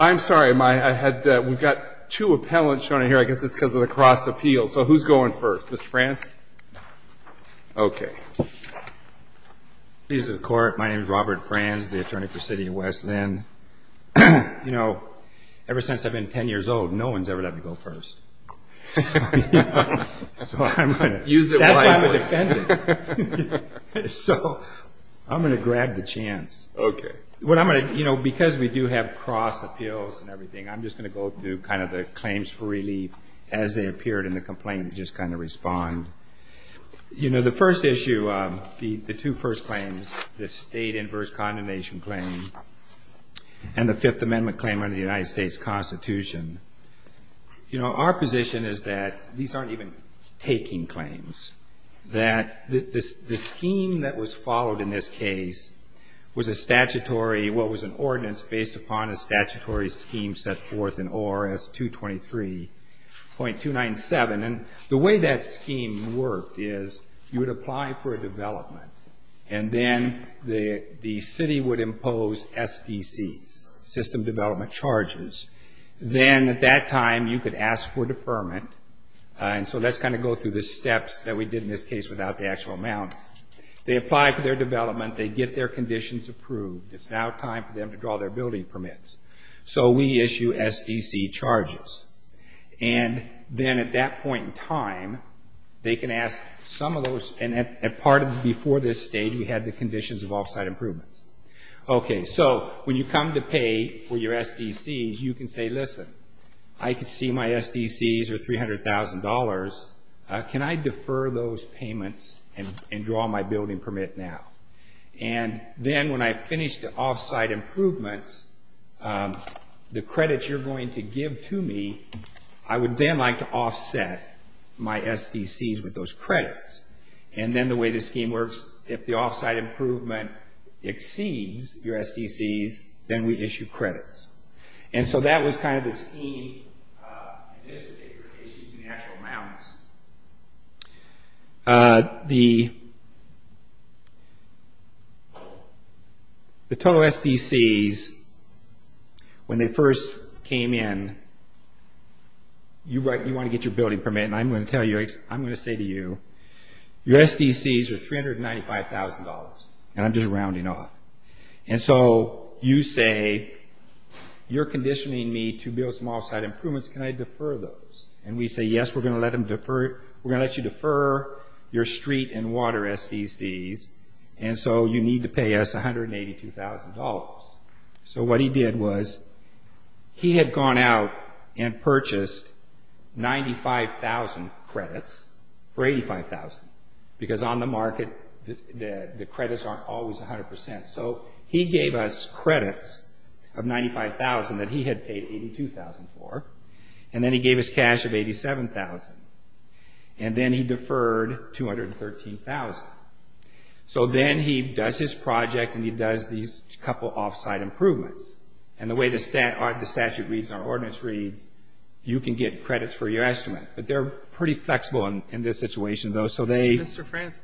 I'm sorry, we've got two appellants showing up here. I guess it's because of the cross-appeal. So who's going first? Mr. Franz? Okay. Please, the Court. My name is Robert Franz, the Attorney for City of West Linn. You know, ever since I've been 10 years old, no one's ever let me go first. So I'm going to use it wisely. That's why I'm a defendant. So I'm going to grab the chance. Okay. You know, because we do have cross-appeals and everything, I'm just going to go through kind of the claims for relief as they appeared in the complaint and just kind of respond. You know, the first issue, the two first claims, the State Inverse Condemnation Claim and the Fifth Amendment claim under the United States Constitution, you know, our position is that these aren't even taking claims, that the scheme that was followed in this case was a statutory, what was an ordinance based upon a statutory scheme set forth in ORS 223.297. And the way that scheme worked is you would apply for a development, and then the city would impose SDCs, system development charges. Then at that time, you could ask for deferment. And so let's kind of go through the steps that we did in this case without the actual amounts. They apply for their development. They get their conditions approved. It's now time for them to draw their building permits. So we issue SDC charges. And then at that point in time, they can ask some of those. And before this stage, we had the conditions of off-site improvements. Okay, so when you come to pay for your SDCs, you can say, listen, I can see my SDCs are $300,000. Can I defer those payments and draw my building permit now? And then when I finish the off-site improvements, the credits you're going to give to me, I would then like to offset my SDCs with those credits. And then the way the scheme works, if the off-site improvement exceeds your SDCs, then we issue credits. And so that was kind of the scheme in this particular case using the actual amounts. The total SDCs, when they first came in, you want to get your building permit. And I'm going to tell you, I'm going to say to you, your SDCs are $395,000. And I'm just rounding off. And so you say, you're conditioning me to build some off-site improvements. Can I defer those? And we say, yes, we're going to let you defer your street and water SDCs. And so you need to pay us $182,000. So what he did was he had gone out and purchased 95,000 credits for $85,000. Because on the market, the credits aren't always 100%. So he gave us credits of $95,000 that he had paid $82,000 for. And then he gave us cash of $87,000. And then he deferred $213,000. So then he does his project, and he does these couple off-site improvements. And the way the statute reads and our ordinance reads, you can get credits for your estimate. But they're pretty flexible in this situation, though. Mr. Frantz,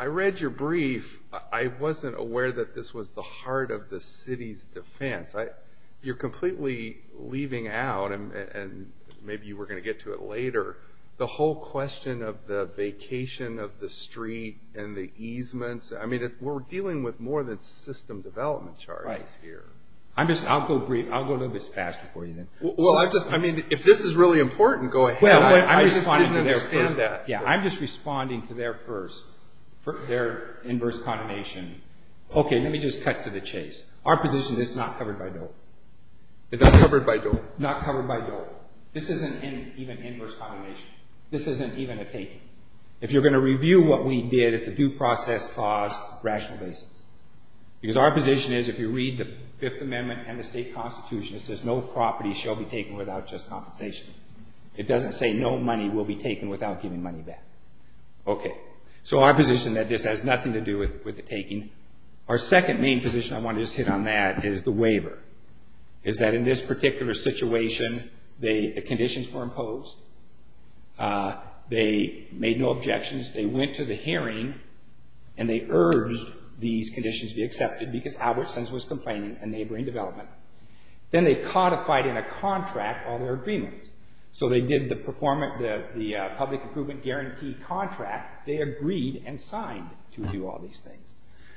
I read your brief. I wasn't aware that this was the heart of the city's defense. You're completely leaving out, and maybe you were going to get to it later, the whole question of the vacation of the street and the easements. I mean, we're dealing with more than system development charges here. I'll go brief. I'll go a little bit faster for you then. Well, I mean, if this is really important, go ahead. I just didn't understand that. Yeah, I'm just responding to their first, their inverse condemnation. Okay, let me just cut to the chase. Our position is it's not covered by DOE. It's not covered by DOE? Not covered by DOE. This isn't even inverse condemnation. This isn't even a taking. If you're going to review what we did, it's a due process clause, rational basis. Because our position is if you read the Fifth Amendment and the state constitution, it says no property shall be taken without just compensation. It doesn't say no money will be taken without giving money back. Okay, so our position is that this has nothing to do with the taking. Our second main position, I want to just hit on that, is the waiver. Is that in this particular situation, the conditions were imposed. They made no objections. They went to the hearing and they urged these conditions be accepted because Albertsons was complaining of neighboring development. Then they codified in a contract all their agreements. So they did the public improvement guarantee contract. They agreed and signed to do all these things.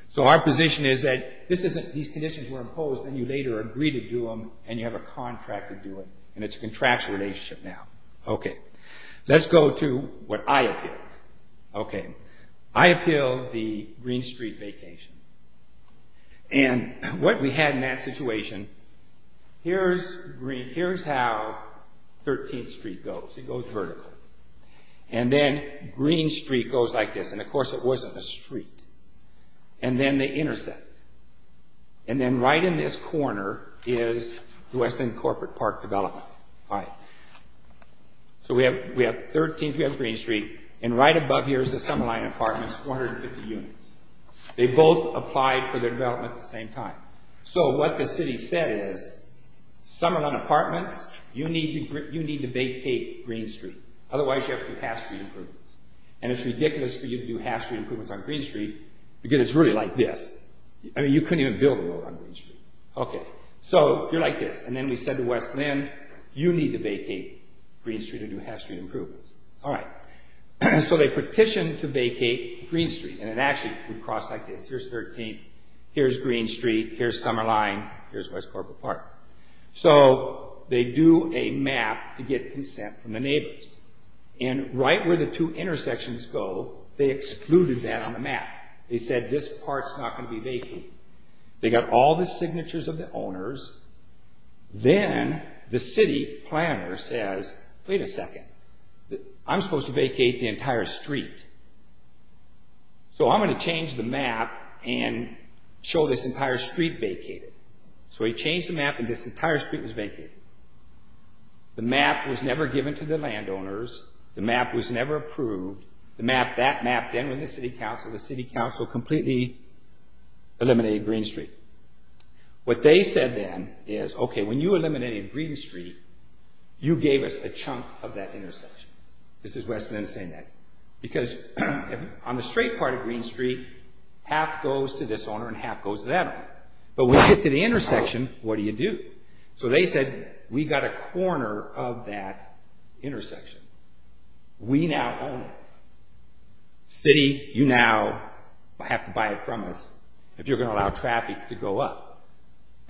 So our position is that these conditions were imposed and you later agreed to do them and you have a contract to do it. It's a contractual relationship now. Let's go to what I appealed. I appealed the Green Street vacation. What we had in that situation, here's how 13th Street goes. It goes vertical. Then Green Street goes like this. Of course, it wasn't a street. Then they intersect. Then right in this corner is West End Corporate Park Development. So we have 13th, we have Green Street. Right above here is the Summerline Apartments, 450 units. They both applied for their development at the same time. So what the city said is, Summerline Apartments, you need to vacate Green Street. Otherwise, you have to pass through improvements. It's ridiculous for you to do half-street improvements on Green Street because it's really like this. You couldn't even build a road on Green Street. So you're like this. Then we said to West End, you need to vacate Green Street and do half-street improvements. So they petitioned to vacate Green Street. It actually would cross like this. Here's 13th, here's Green Street, here's Summerline, here's West Corporate Park. So they do a map to get consent from the neighbors. Right where the two intersections go, they excluded that on the map. They said this part's not going to be vacated. They got all the signatures of the owners. Then the city planner says, wait a second. I'm supposed to vacate the entire street. So I'm going to change the map and show this entire street vacated. So he changed the map and this entire street was vacated. The map was never given to the landowners. The map was never approved. That map, then when the city council, the city council completely eliminated Green Street. What they said then is, okay, when you eliminated Green Street, you gave us a chunk of that intersection. This is West End saying that. Because on the straight part of Green Street, half goes to this owner and half goes to that owner. But when you get to the intersection, what do you do? So they said, we got a corner of that intersection. We now own it. City, you now have to buy it from us if you're going to allow traffic to go up.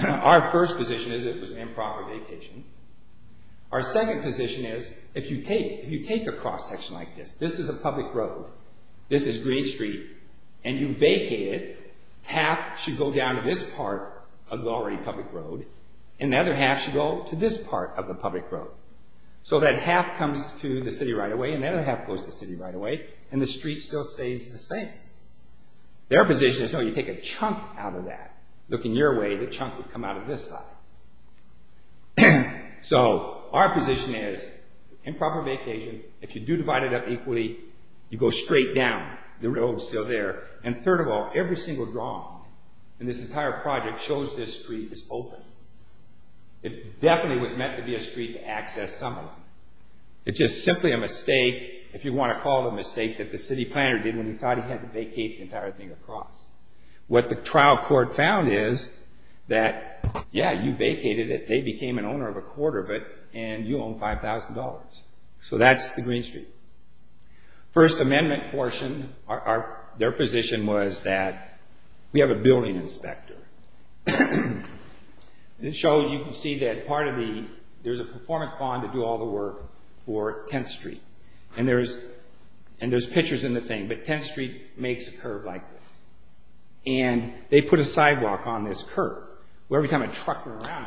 Our first position is it was an improper vacation. Our second position is, if you take a cross section like this, this is a public road, this is Green Street, and you vacate it, then half should go down to this part of the already public road and the other half should go to this part of the public road. So that half comes to the city right away and the other half goes to the city right away and the street still stays the same. Their position is, no, you take a chunk out of that. Looking your way, the chunk would come out of this side. So our position is improper vacation. If you do divide it up equally, you go straight down. The road's still there. And third of all, every single draw in this entire project shows this street is open. It definitely was meant to be a street to access someone. It's just simply a mistake, if you want to call it a mistake, that the city planner did when he thought he had to vacate the entire thing across. What the trial court found is that, yeah, you vacated it, they became an owner of a quarter of it, and you own $5,000. So that's the Green Street. First Amendment portion, their position was that we have a building inspector. It shows you can see that part of the, there's a performance bond to do all the work for 10th Street. And there's pictures in the thing, but 10th Street makes a curb like this. And they put a sidewalk on this curb. Well, every time a truck went around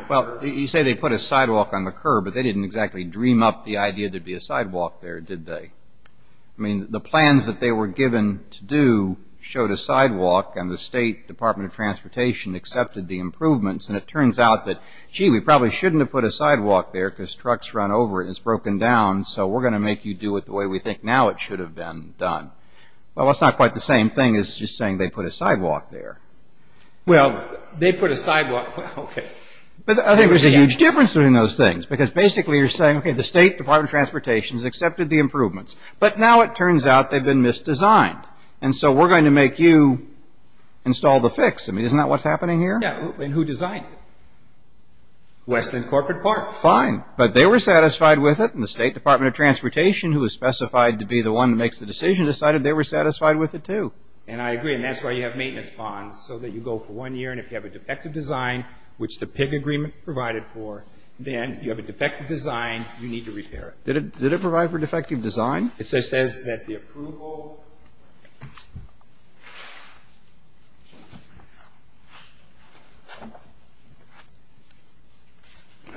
the curb. But they didn't exactly dream up the idea there'd be a sidewalk there, did they? I mean, the plans that they were given to do showed a sidewalk, and the State Department of Transportation accepted the improvements. And it turns out that, gee, we probably shouldn't have put a sidewalk there because trucks run over it and it's broken down, so we're going to make you do it the way we think now it should have been done. Well, that's not quite the same thing as just saying they put a sidewalk there. Well, they put a sidewalk, okay. But I think there's a huge difference between those things because basically you're saying, okay, the State Department of Transportation has accepted the improvements, but now it turns out they've been misdesigned. And so we're going to make you install the fix. I mean, isn't that what's happening here? Yeah, and who designed it? Westland Corporate Park. Fine, but they were satisfied with it, and the State Department of Transportation, who is specified to be the one that makes the decision, decided they were satisfied with it too. And I agree, and that's why you have maintenance bonds, so that you go for one year, and if you have a defective design, which the PIG agreement provided for, then you have a defective design, you need to repair it. Did it provide for defective design? It says that the approval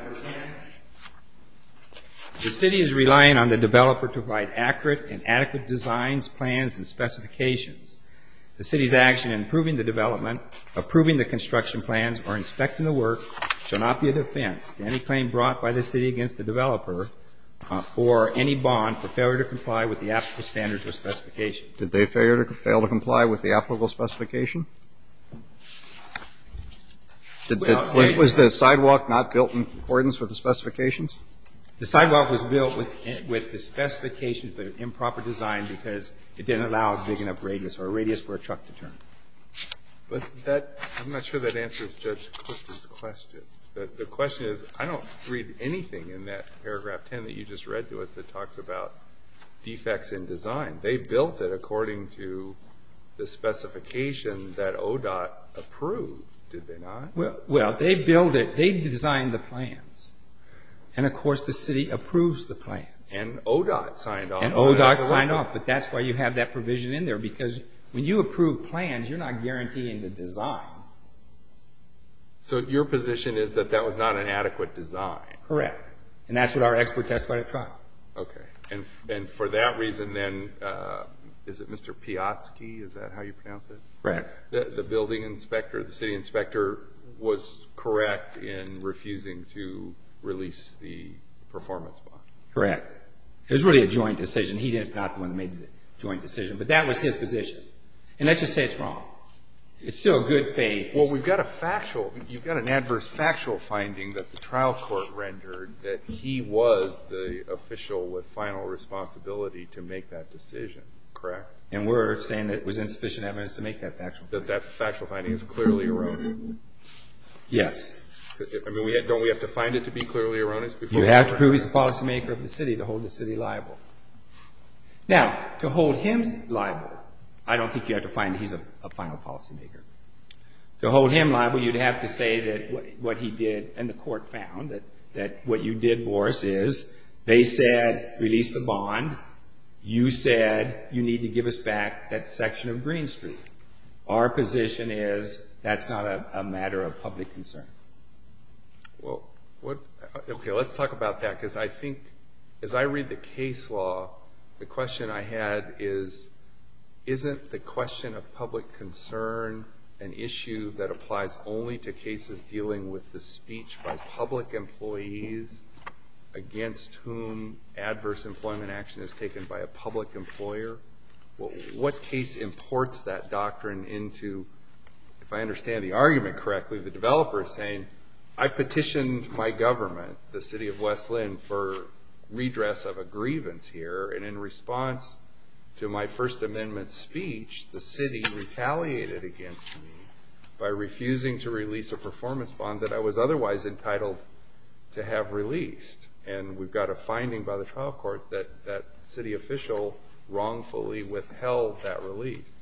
of the city is relying on the developer to provide accurate and adequate designs, plans, and specifications. The city's action in approving the development, approving the construction plans, or inspecting the work shall not be a defense to any claim brought by the city against the developer or any bond for failure to comply with the applicable standards or specifications. Did they fail to comply with the applicable specification? Was the sidewalk not built in accordance with the specifications? The sidewalk was built with the specifications, but an improper design because it didn't allow a big enough radius or a radius for a truck to turn. I'm not sure that answers Judge Clifton's question. The question is, I don't read anything in that paragraph 10 that you just read to us that talks about defects in design. They built it according to the specification that ODOT approved, did they not? Well, they designed the plans, and, of course, the city approves the plans. And ODOT signed off. And ODOT signed off, but that's why you have that provision in there because when you approve plans, you're not guaranteeing the design. So your position is that that was not an adequate design? Correct. And that's what our expert testified at trial. Okay. And for that reason, then, is it Mr. Piotrski, is that how you pronounce it? Correct. The building inspector, the city inspector, was correct in refusing to release the performance bond. Correct. It was really a joint decision. He is not the one who made the joint decision, but that was his position. And let's just say it's wrong. It's still a good thing. Well, you've got an adverse factual finding that the trial court rendered that he was the official with final responsibility to make that decision, correct? And we're saying that it was insufficient evidence to make that factual finding. That that factual finding is clearly erroneous? Yes. I mean, don't we have to find it to be clearly erroneous? You have to prove he's the policymaker of the city to hold the city liable. Now, to hold him liable, I don't think you have to find that he's a final policymaker. To hold him liable, you'd have to say that what he did and the court found that what you did, Boris, is they said release the bond. You said you need to give us back that section of Green Street. Our position is that's not a matter of public concern. Well, okay, let's talk about that because I think as I read the case law, the question I had is isn't the question of public concern an issue that applies only to cases dealing with the speech by public employees against whom adverse employment action is taken by a public employer? What case imports that doctrine into, if I understand the argument correctly, the developer is saying I petitioned my government, the city of West Lynn, for redress of a grievance here, and in response to my First Amendment speech, the city retaliated against me by refusing to release a performance bond that I was otherwise entitled to have released, and we've got a finding by the trial court that that city official wrongfully withheld that release.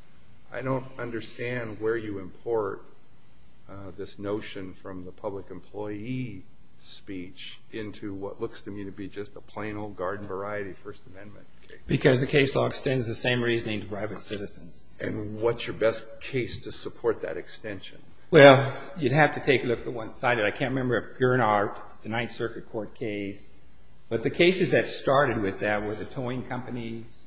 I don't understand where you import this notion from the public employee speech into what looks to me to be just a plain old garden variety First Amendment case. Because the case law extends the same reasoning to private citizens. And what's your best case to support that extension? Well, you'd have to take a look at the one cited. I can't remember if Gernard, the Ninth Circuit Court case, but the cases that started with that were the towing companies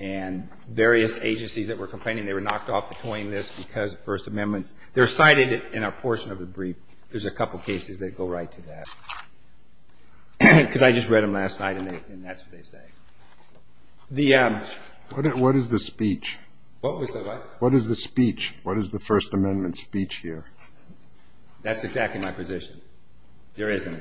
and various agencies that were complaining they were knocked off the towing list because of First Amendments. They're cited in a portion of the brief. There's a couple cases that go right to that because I just read them last night, and that's what they say. What is the speech? What was the what? What is the speech? What is the First Amendment speech here? That's exactly my position. There isn't.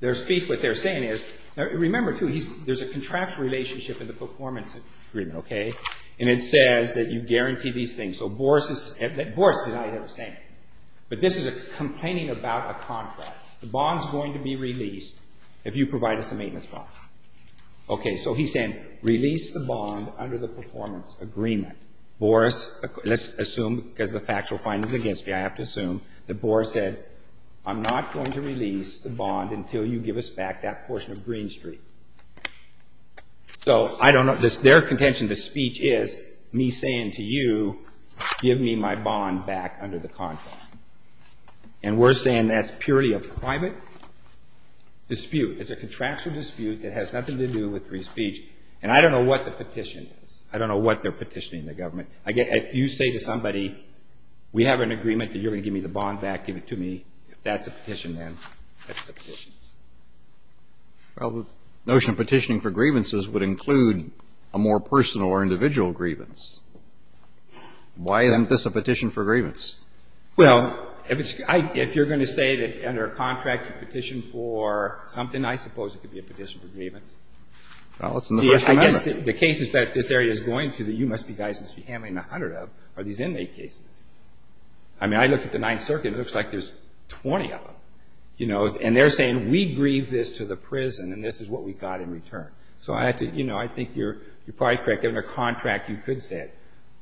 Their speech, what they're saying is, remember, too, there's a contractual relationship in the performance agreement, okay? And it says that you guarantee these things. So Boris is, Boris and I have the same. But this is a complaining about a contract. The bond's going to be released if you provide us a maintenance bond. Okay, so he's saying release the bond under the performance agreement. Boris, let's assume because the factual findings against me, I have to assume that Boris said, I'm not going to release the bond until you give us back that portion of Green Street. So I don't know. Their contention to speech is me saying to you, give me my bond back under the contract. And we're saying that's purely a private dispute. It's a contractual dispute that has nothing to do with free speech. And I don't know what the petition is. I don't know what they're petitioning the government. You say to somebody, we have an agreement that you're going to give me the bond back, give it to me. If that's a petition, then that's the petition. Well, the notion of petitioning for grievances would include a more personal or individual grievance. Why isn't this a petition for grievance? Well, if you're going to say that under a contract you petition for something, I suppose it could be a petition for grievance. Well, it's in the First Amendment. The cases that this area is going to that you guys must be handling a hundred of are these inmate cases. I mean, I looked at the Ninth Circuit. It looks like there's 20 of them. And they're saying we grieve this to the prison and this is what we got in return. So I think you're probably correct. Under a contract, you could say it.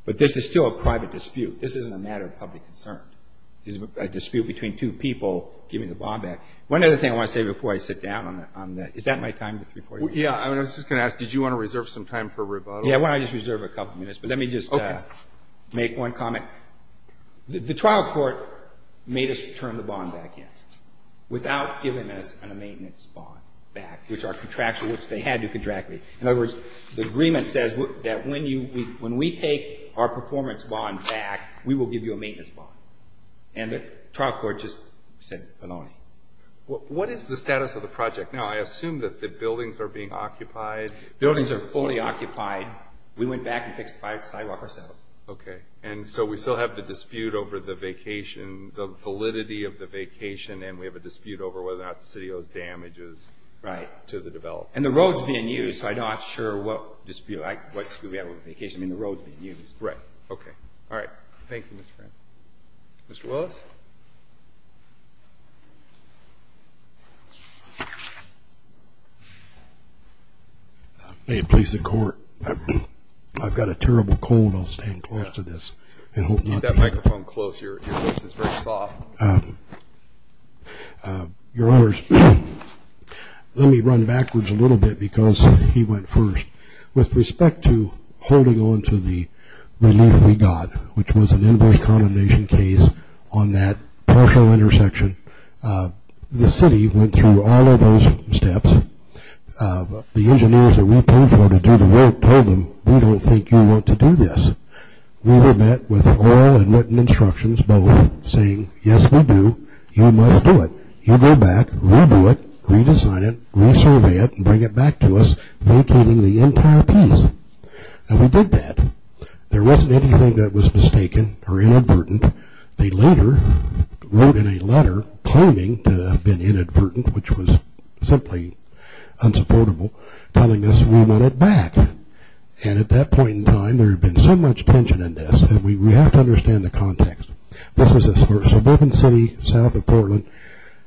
But this is still a private dispute. This isn't a matter of public concern. It's a dispute between two people giving the bond back. One other thing I want to say before I sit down on that. Is that my time? Yeah. I was just going to ask, did you want to reserve some time for rebuttal? Yeah, why don't I just reserve a couple minutes. But let me just make one comment. The trial court made us return the bond back in without giving us a maintenance bond back, which our contractual, which they had to contract me. In other words, the agreement says that when we take our performance bond back, we will give you a maintenance bond. And the trial court just said baloney. What is the status of the project now? I assume that the buildings are being occupied. Buildings are fully occupied. We went back and fixed five sidewalks. Okay. And so we still have the dispute over the vacation, the validity of the vacation. And we have a dispute over whether or not the city owes damages to the developer. Right. And the road's being used, so I'm not sure what dispute we have with the vacation. I mean, the road's being used. Right. Okay. All right. Thank you, Mr. Frantz. Mr. Willis? May it please the Court, I've got a terrible cold. I'll stand close to this. Keep that microphone close. Your voice is very soft. Your Honors, let me run backwards a little bit because he went first. With respect to holding on to the relief we got, which was an inverse condemnation case on that partial intersection, the city went through all of those steps. The engineers that we paid for to do the work told them, we don't think you want to do this. We were met with oral and written instructions both saying, yes, we do. You must do it. You go back, redo it, redesign it, resurvey it, and bring it back to us. They came in the entire piece. And we did that. There wasn't anything that was mistaken or inadvertent. They later wrote in a letter claiming to have been inadvertent, which was simply unsupportable, telling us we want it back. And at that point in time, there had been so much tension in this, and we have to understand the context. This was a suburban city south of Portland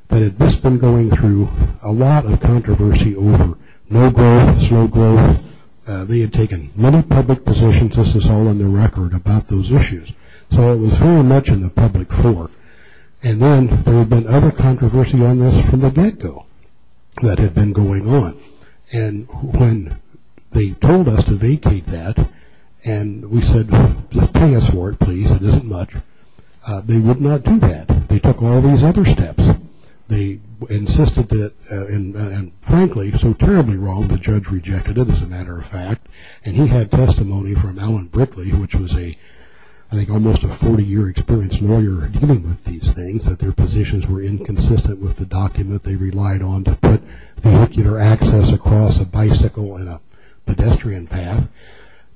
that had just been going through a lot of controversy over no growth, slow growth. They had taken many public positions. This is all in the record about those issues. So it was very much in the public fore. And then there had been other controversy on this from the get-go that had been going on. And when they told us to vacate that, and we said, pay us for it, please. It isn't much. They would not do that. They took all these other steps. They insisted that, and frankly, so terribly wrong, the judge rejected it, as a matter of fact. And he had testimony from Alan Brickley, which was I think almost a 40-year-experienced lawyer dealing with these things, that their positions were inconsistent with the document they relied on to put vehicular access across a bicycle and a pedestrian path.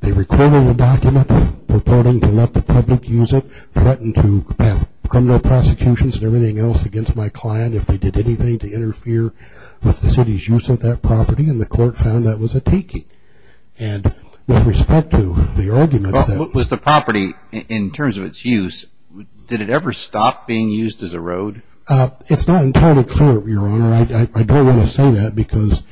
They recorded a document purporting to let the public use it, threatened to have criminal prosecutions and everything else against my client if they did anything to interfere with the city's use of that property, and the court found that was a taking. And with respect to the argument that- Was the property, in terms of its use, did it ever stop being used as a road? It's not entirely clear, Your Honor. I don't want to say that because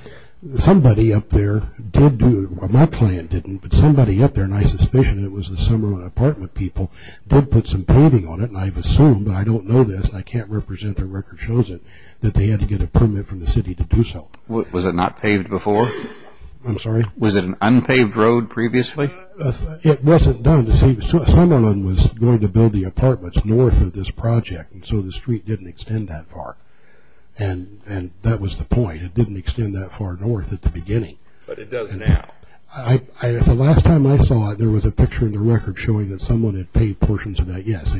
somebody up there did do it. Well, my client didn't, but somebody up there, and I suspicion it was the Summerlin apartment people, did put some paving on it, and I've assumed, but I don't know this and I can't represent the record shows it, that they had to get a permit from the city to do so. Was it not paved before? I'm sorry? Was it an unpaved road previously? It wasn't done. Summerlin was going to build the apartments north of this project, and so the street didn't extend that far, and that was the point. It didn't extend that far north at the beginning. But it does now. The last time I saw it, there was a picture in the record showing that someone had paved portions of that. Yes,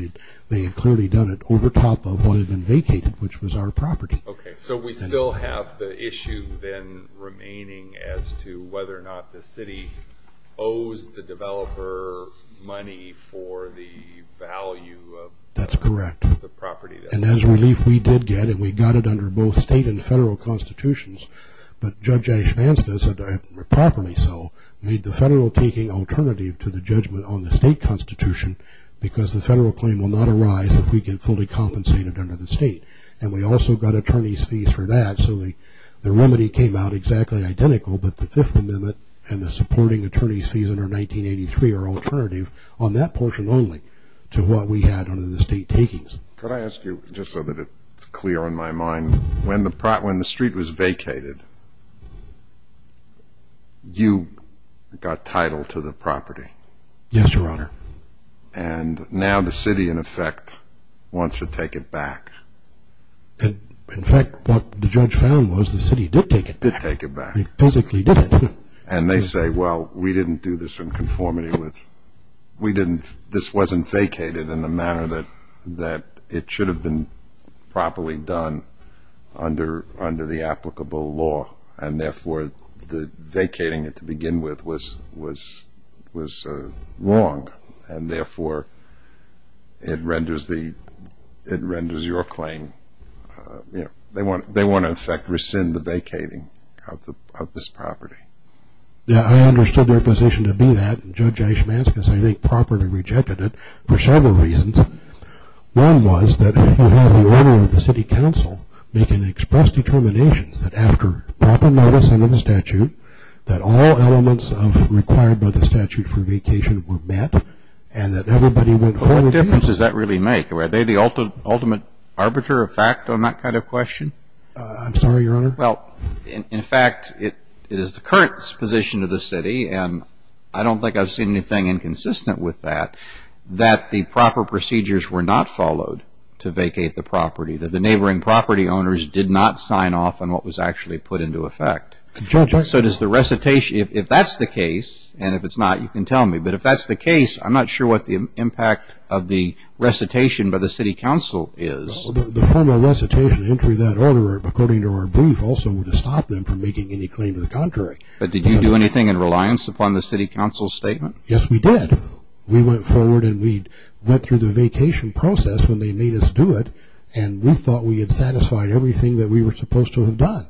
they had clearly done it over top of what had been vacated, which was our property. Okay. So we still have the issue then remaining as to whether or not the city owes the developer money for the value of the property. That's correct. And as relief we did get, and we got it under both state and federal constitutions, but Judge Ash Vansta said properly so, made the federal taking alternative to the judgment on the state constitution because the federal claim will not arise if we get fully compensated under the state. And we also got attorney's fees for that, so the remedy came out exactly identical, but the Fifth Amendment and the supporting attorney's fees under 1983 are alternative on that portion only to what we had under the state takings. Could I ask you, just so that it's clear on my mind, when the street was vacated, you got title to the property. Yes, Your Honor. And now the city, in effect, wants to take it back. In fact, what the judge found was the city did take it back. Did take it back. They physically did it. And they say, well, we didn't do this in conformity with, this wasn't vacated in the manner that it should have been properly done under the applicable law, and therefore the vacating it to begin with was wrong, and therefore it renders your claim, they want to, in effect, rescind the vacating of this property. Now, I understood their position to be that, and Judge Eichmanskas, I think, properly rejected it for several reasons. One was that if you have the order of the city council, they can express determinations that after proper notice under the statute, that all elements required by the statute for vacation were met, and that everybody went home. What difference does that really make? Are they the ultimate arbiter of fact on that kind of question? I'm sorry, Your Honor? Well, in fact, it is the current position of the city, and I don't think I've seen anything inconsistent with that, that the proper procedures were not followed to vacate the property, that the neighboring property owners did not sign off on what was actually put into effect. So does the recitation, if that's the case, and if it's not, you can tell me, but if that's the case, I'm not sure what the impact of the recitation by the city council is. The formal recitation, entry of that order, according to our brief, also would have stopped them from making any claim to the contrary. But did you do anything in reliance upon the city council's statement? Yes, we did. We went forward and we went through the vacation process when they made us do it, and we thought we had satisfied everything that we were supposed to have done.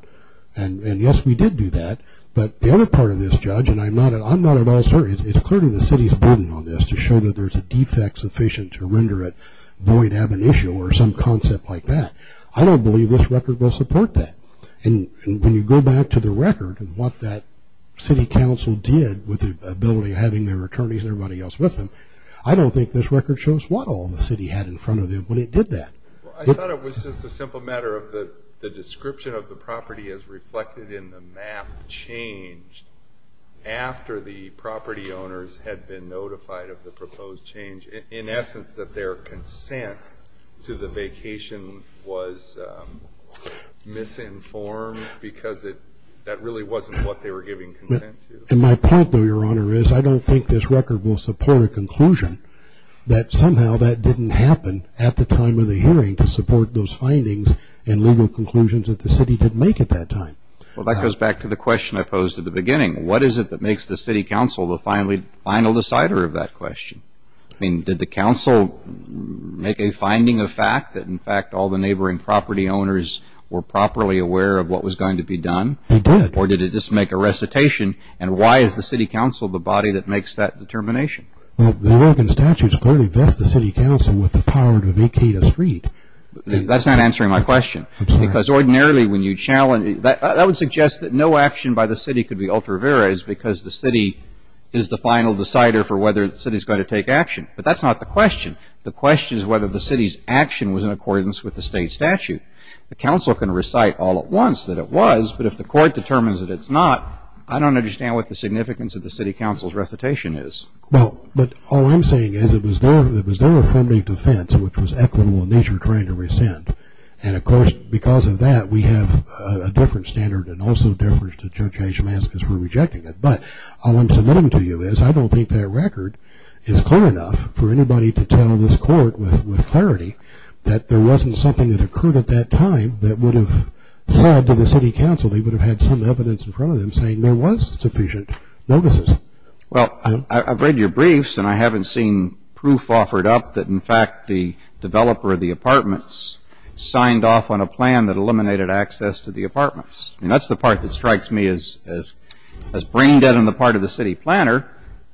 And yes, we did do that, but the other part of this, Judge, and I'm not at all certain, it's clearly the city's burden on this to show that there's a defect sufficient to render it void ab initio or some concept like that. I don't believe this record will support that. And when you go back to the record and what that city council did with the ability of having their attorneys and everybody else with them, I don't think this record shows what all the city had in front of it when it did that. I thought it was just a simple matter of the description of the property as reflected in the map changed after the property owners had been notified of the proposed change. In essence, that their consent to the vacation was misinformed because that really wasn't what they were giving consent to. And my point, though, Your Honor, is I don't think this record will support a conclusion that somehow that didn't happen at the time of the hearing to support those findings and legal conclusions that the city didn't make at that time. Well, that goes back to the question I posed at the beginning. What is it that makes the city council the final decider of that question? I mean, did the council make a finding of fact that, in fact, all the neighboring property owners were properly aware of what was going to be done? They did. Or did it just make a recitation? And why is the city council the body that makes that determination? The American statutes clearly vest the city council with the power to vacate a street. That's not answering my question. Because ordinarily when you challenge that would suggest that no action by the city could be ultravera because the city is the final decider for whether the city is going to take action. But that's not the question. The question is whether the city's action was in accordance with the state statute. The council can recite all at once that it was, but if the court determines that it's not, I don't understand what the significance of the city council's recitation is. Well, but all I'm saying is it was their affirmative defense, which was equitable in nature, trying to rescind. And, of course, because of that, we have a different standard and also a difference to Judge Hayes-Szymanski's for rejecting it. But all I'm submitting to you is I don't think that record is clear enough for anybody to tell this court with clarity that there wasn't something that occurred at that time that would have said to the city council they would have had some evidence in front of them saying there was sufficient notices. Well, I've read your briefs, and I haven't seen proof offered up that, in fact, the developer of the apartments signed off on a plan that eliminated access to the apartments. I mean, that's the part that strikes me as brain dead on the part of the city planner,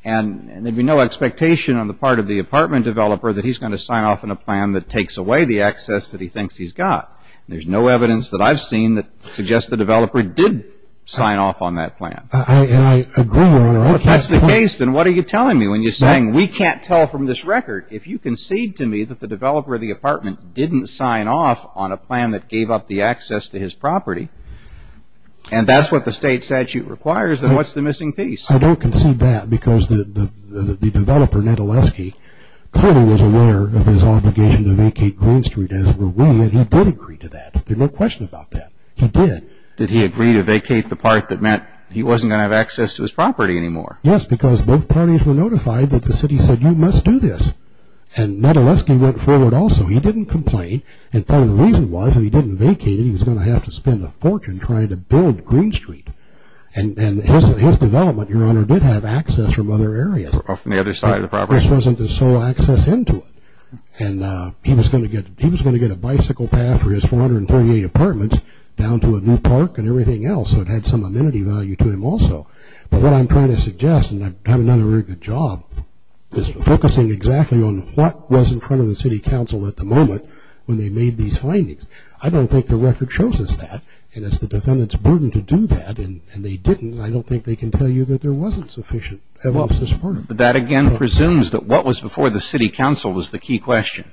and there'd be no expectation on the part of the apartment developer that he's going to sign off on a plan that takes away the access that he thinks he's got. There's no evidence that I've seen that suggests the developer did sign off on that plan. And I agree with you. If that's the case, then what are you telling me when you're saying we can't tell from this record? If you concede to me that the developer of the apartment didn't sign off on a plan that gave up the access to his property, and that's what the state statute requires, then what's the missing piece? I don't concede that because the developer, Ned Oleski, clearly was aware of his obligation to vacate Green Street, as were we, and he did agree to that. There's no question about that. He did. Did he agree to vacate the part that meant he wasn't going to have access to his property anymore? Yes, because both parties were notified that the city said, you must do this. And Ned Oleski went forward also. He didn't complain. And part of the reason was, if he didn't vacate it, he was going to have to spend a fortune trying to build Green Street. And his development, Your Honor, did have access from other areas. From the other side of the property. This wasn't the sole access into it. And he was going to get a bicycle path for his 438 apartments down to a new park and everything else, so it had some amenity value to him also. But what I'm trying to suggest, and I haven't done a very good job, is focusing exactly on what was in front of the city council at the moment when they made these findings. I don't think the record shows us that. And it's the defendant's burden to do that, and they didn't, and I don't think they can tell you that there wasn't sufficient evidence to support it. But that, again, presumes that what was before the city council was the key question.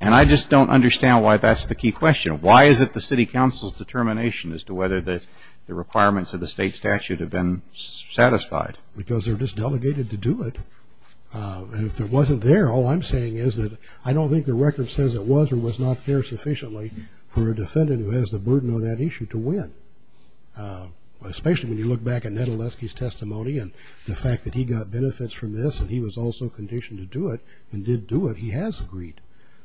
And I just don't understand why that's the key question. Why is it the city council's determination as to whether the requirements of the state statute have been satisfied? Because they're just delegated to do it. And if it wasn't there, all I'm saying is that I don't think the record says it was or was not there sufficiently for a defendant who has the burden of that issue to win. Especially when you look back at Neduleski's testimony and the fact that he got benefits from this and he was also conditioned to do it and did do it, he has agreed.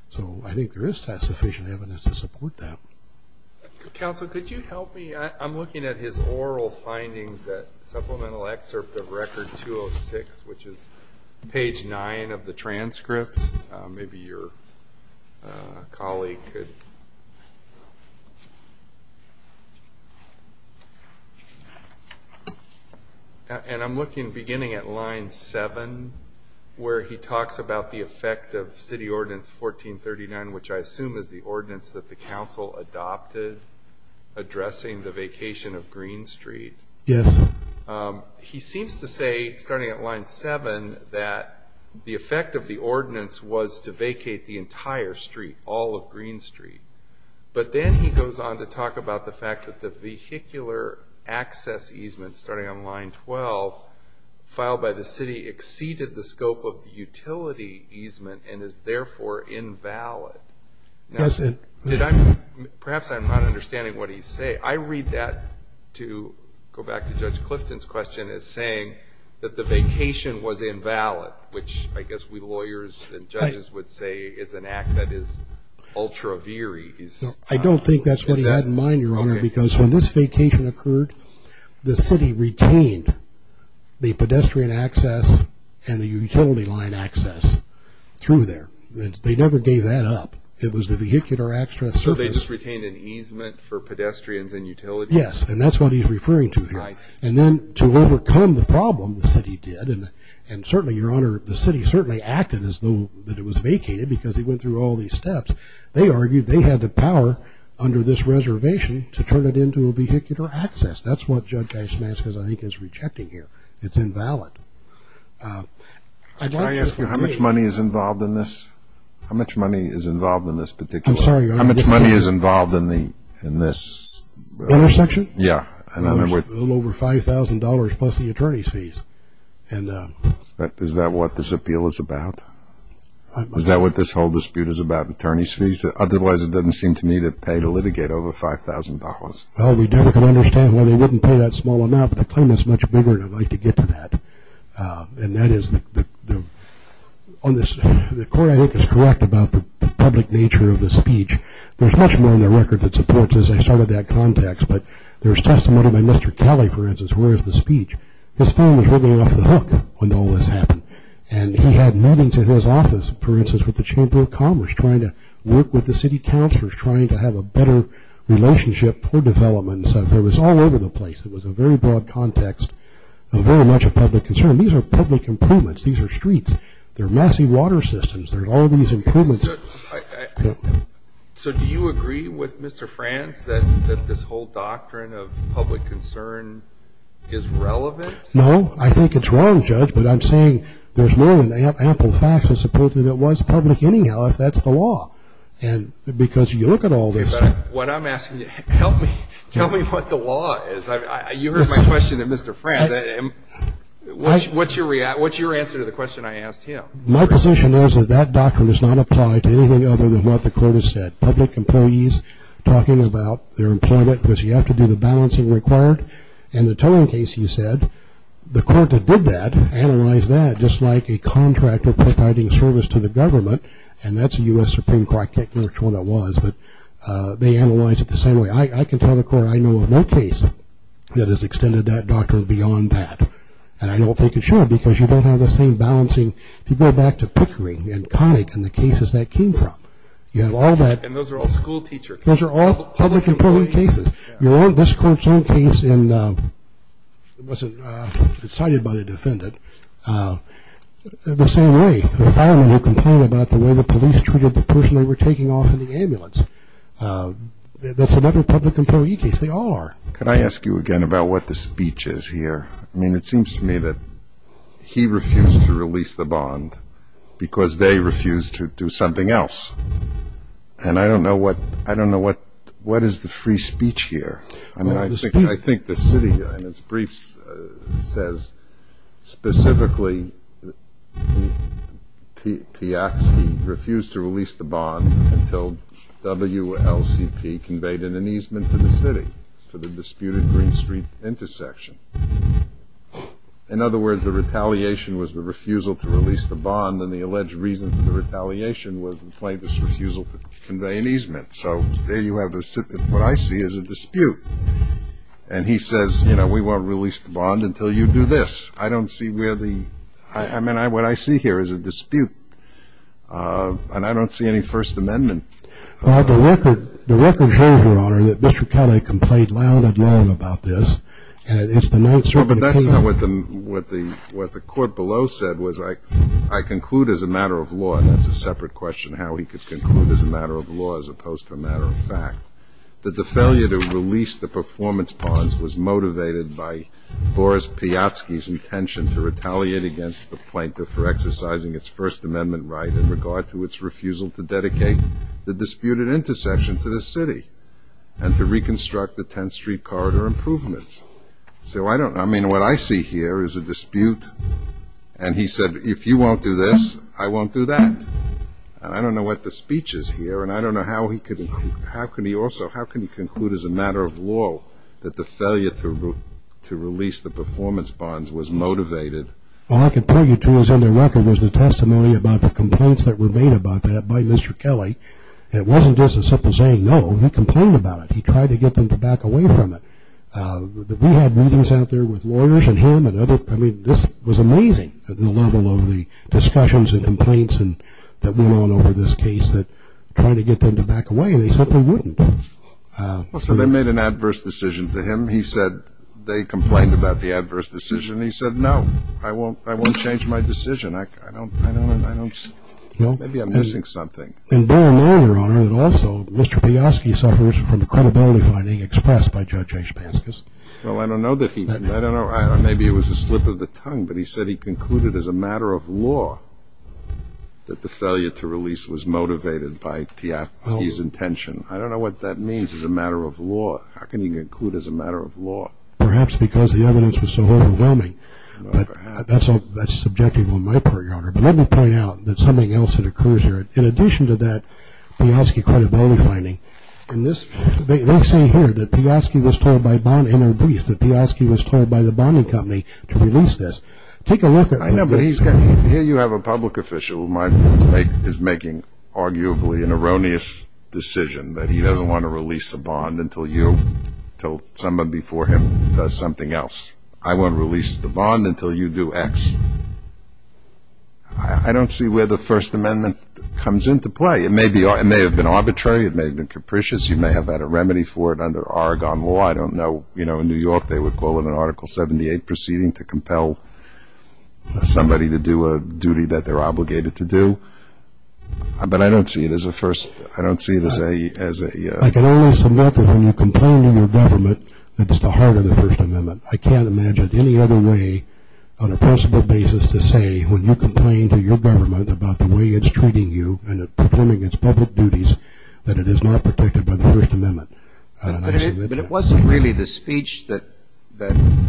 So I think there is sufficient evidence to support that. Counsel, could you help me? I'm looking at his oral findings at supplemental excerpt of record 206, which is page 9 of the transcript. Maybe your colleague could... And I'm looking, beginning at line 7, where he talks about the effect of city ordinance 1439, which I assume is the ordinance that the council adopted addressing the vacation of Green Street. Yes. He seems to say, starting at line 7, that the effect of the ordinance was to vacate the entire street, all of Green Street. But then he goes on to talk about the fact that the vehicular access easement, starting on line 12, filed by the city, exceeded the scope of the utility easement and is therefore invalid. Perhaps I'm not understanding what he's saying. I read that to go back to Judge Clifton's question as saying that the vacation was invalid, which I guess we lawyers and judges would say is an act that is ultra viris. I don't think that's what he had in mind, Your Honor, because when this vacation occurred, the city retained the pedestrian access and the utility line access through there. They never gave that up. It was the vehicular access service. So they just retained an easement for pedestrians and utilities? Yes, and that's what he's referring to here. And then to overcome the problem, the city did, and certainly, Your Honor, the city certainly acted as though that it was vacated because he went through all these steps. They argued they had the power under this reservation to turn it into a vehicular access. That's what Judge Eisman, I think, is rejecting here. It's invalid. Can I ask you how much money is involved in this? How much money is involved in this particular? I'm sorry, Your Honor. How much money is involved in this? Intersection? Yeah. A little over $5,000 plus the attorney's fees. Is that what this appeal is about? Is that what this whole dispute is about, attorney's fees? Otherwise, it doesn't seem to me to pay the litigator over $5,000. Well, we definitely can understand why they wouldn't pay that small amount, but the claim is much bigger, and I'd like to get to that. And that is the court, I think, is correct about the public nature of the speech. There's much more in the record that supports this. Let me start with that context. But there's testimony by Mr. Kelly, for instance, where is the speech? His phone was ringing off the hook when all this happened, and he had meetings in his office, for instance, with the Chamber of Commerce, trying to work with the city councilors, trying to have a better relationship for development. So there was all over the place. It was a very broad context and very much a public concern. These are public improvements. These are streets. They're massive water systems. There's all these improvements. So do you agree with Mr. Franz that this whole doctrine of public concern is relevant? No. I think it's wrong, Judge, but I'm saying there's more than ample facts that support that it was public anyhow, if that's the law, because you look at all this. But what I'm asking you, tell me what the law is. You heard my question to Mr. Franz. What's your answer to the question I asked him? My position is that that doctrine does not apply to anything other than what the court has said. Public employees talking about their employment, because you have to do the balancing required, and the tolling case, he said, the court that did that analyzed that, just like a contractor providing service to the government, and that's a U.S. Supreme Court. I can't remember which one it was, but they analyzed it the same way. I can tell the court I know of no case that has extended that doctrine beyond that, and I don't think it should because you don't have the same balancing. If you go back to Pickering and Connick and the cases that came from, you have all that. And those are all school teacher cases. Those are all public employee cases. This court's own case was decided by the defendant the same way. The firemen who complained about the way the police treated the person they were taking off in the ambulance, that's another public employee case. They all are. Could I ask you again about what the speech is here? I mean, it seems to me that he refused to release the bond because they refused to do something else. And I don't know what is the free speech here. I mean, I think the city in its briefs says, specifically, Piatsky refused to release the bond until WLCP conveyed an easement to the city for the disputed Green Street intersection. In other words, the retaliation was the refusal to release the bond, and the alleged reason for the retaliation was the plaintiff's refusal to convey an easement. So there you have what I see as a dispute. And he says, you know, we won't release the bond until you do this. I don't see where the ‑‑ I mean, what I see here is a dispute. And I don't see any First Amendment. The record shows, Your Honor, that Bishop County complained loud and long about this. And it's the night ‑‑ But that's not what the court below said, was I conclude as a matter of law, and that's a separate question, how he could conclude as a matter of law as opposed to a matter of fact, that the failure to release the performance bonds was motivated by Boris Piatsky's intention to retaliate against the plaintiff for exercising its First Amendment right in regard to its refusal to dedicate the disputed intersection to the city and to reconstruct the 10th Street corridor improvements. So I don't ‑‑ I mean, what I see here is a dispute. And he said, if you won't do this, I won't do that. And I don't know what the speech is here, and I don't know how he could ‑‑ how can he also ‑‑ how can he conclude as a matter of law that the failure to release the performance bonds was motivated. All I can point you to is in the record was the testimony about the complaints that were made about that by Mr. Kelly. It wasn't just a simple saying no, he complained about it. He tried to get them to back away from it. We had meetings out there with lawyers and him and other ‑‑ I mean, this was amazing at the level of the discussions and complaints that went on over this case that trying to get them to back away, they simply wouldn't. So they made an adverse decision to him. He said they complained about the adverse decision. He said, no, I won't change my decision. I don't ‑‑ maybe I'm missing something. And bear in mind, Your Honor, that also Mr. Piyoski suffers from the credibility finding expressed by Judge Ashpanskas. Well, I don't know that he ‑‑ I don't know. Maybe it was a slip of the tongue, but he said he concluded as a matter of law that the failure to release was motivated by Piyoski's intention. I don't know what that means as a matter of law. How can he conclude as a matter of law? Perhaps because the evidence was so overwhelming. Well, perhaps. But that's subjective on my part, Your Honor. But let me point out that something else that occurs here. In addition to that, Piyoski credibility finding. And this ‑‑ they're saying here that Piyoski was told by Bond and Herbie that Piyoski was told by the Bonding Company to release this. Take a look at this. I know, but he's got ‑‑ here you have a public official who is making arguably an erroneous decision that he doesn't want to release the Bond until you, until someone before him does something else. I won't release the Bond until you do X. I don't see where the First Amendment comes into play. It may have been arbitrary. It may have been capricious. You may have had a remedy for it under Oregon law. I don't know, you know, in New York they would call it an Article 78 proceeding to compel somebody to do a duty that they're obligated to do. But I don't see it as a first ‑‑ I don't see it as a ‑‑ I can only submit that when you complain to your government, that's the heart of the First Amendment. I can't imagine any other way on a principle basis to say when you complain to your government about the way it's treating you and performing its public duties, that it is not protected by the First Amendment. But it wasn't really the speech that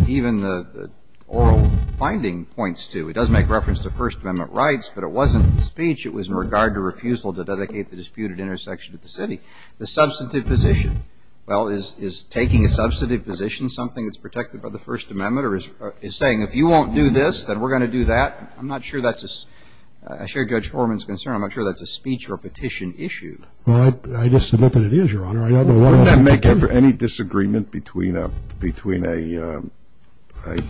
even the oral finding points to. It does make reference to First Amendment rights, but it wasn't the speech. It was in regard to refusal to dedicate the disputed intersection to the city. The substantive position, well, is taking a substantive position, something that's protected by the First Amendment, or is saying if you won't do this, then we're going to do that? I'm not sure that's a ‑‑ as far as Judge Horman is concerned, I'm not sure that's a speech or a petition issue. Well, I just submit that it is, Your Honor. I don't know what else I can do. Wouldn't that make any disagreement between a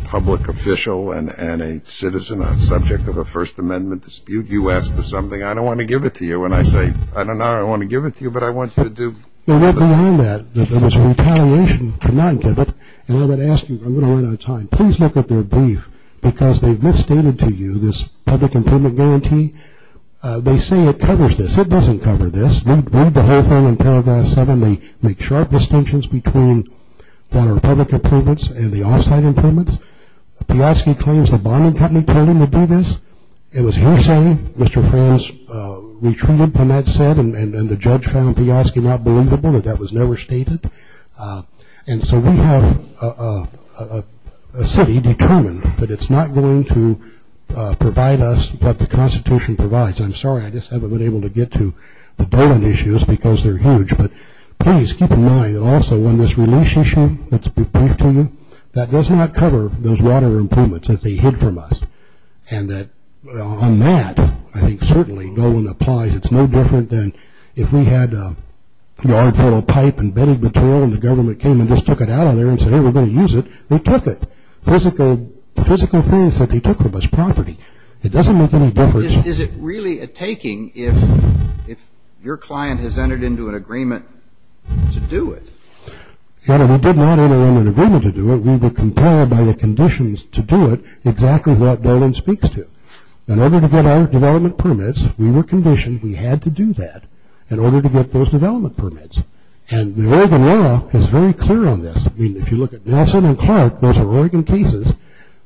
public official and a citizen on the subject of a First Amendment dispute? You ask for something, I don't want to give it to you, and I say, I don't know how I want to give it to you, but I want you to do ‑‑ Well, beyond that, there was retaliation to not give it, and I'm going to ask you, I'm going to run out of time, please look at their brief, because they've misstated to you this public employment guarantee. They say it covers this. It doesn't cover this. Read the whole thing in Paragraph 7. They make sharp distinctions between the Republic improvements and the off‑site improvements. Piyoski claims the bombing company told him to do this. It was his saying. Mr. Franz retreated when that said, and the judge found Piyoski not believable that that was never stated. And so we have a city determined that it's not going to provide us what the Constitution provides. I'm sorry, I just haven't been able to get to the Dolan issues because they're huge, but please keep in mind also when this release issue that's briefed to you, that does not cover those water improvements that they hid from us, and that on that, I think certainly Dolan applies. It's no different than if we had a yard full of pipe and bedding material and the government came and just took it out of there and said, hey, we're going to use it. They took it. Physical things that they took from us, property. It doesn't make any difference. Is it really a taking if your client has entered into an agreement to do it? We did not enter into an agreement to do it. We were compelled by the conditions to do it exactly what Dolan speaks to. In order to get our development permits, we were conditioned we had to do that in order to get those development permits. And the Oregon law is very clear on this. I mean, if you look at Nelson and Clark, those are Oregon cases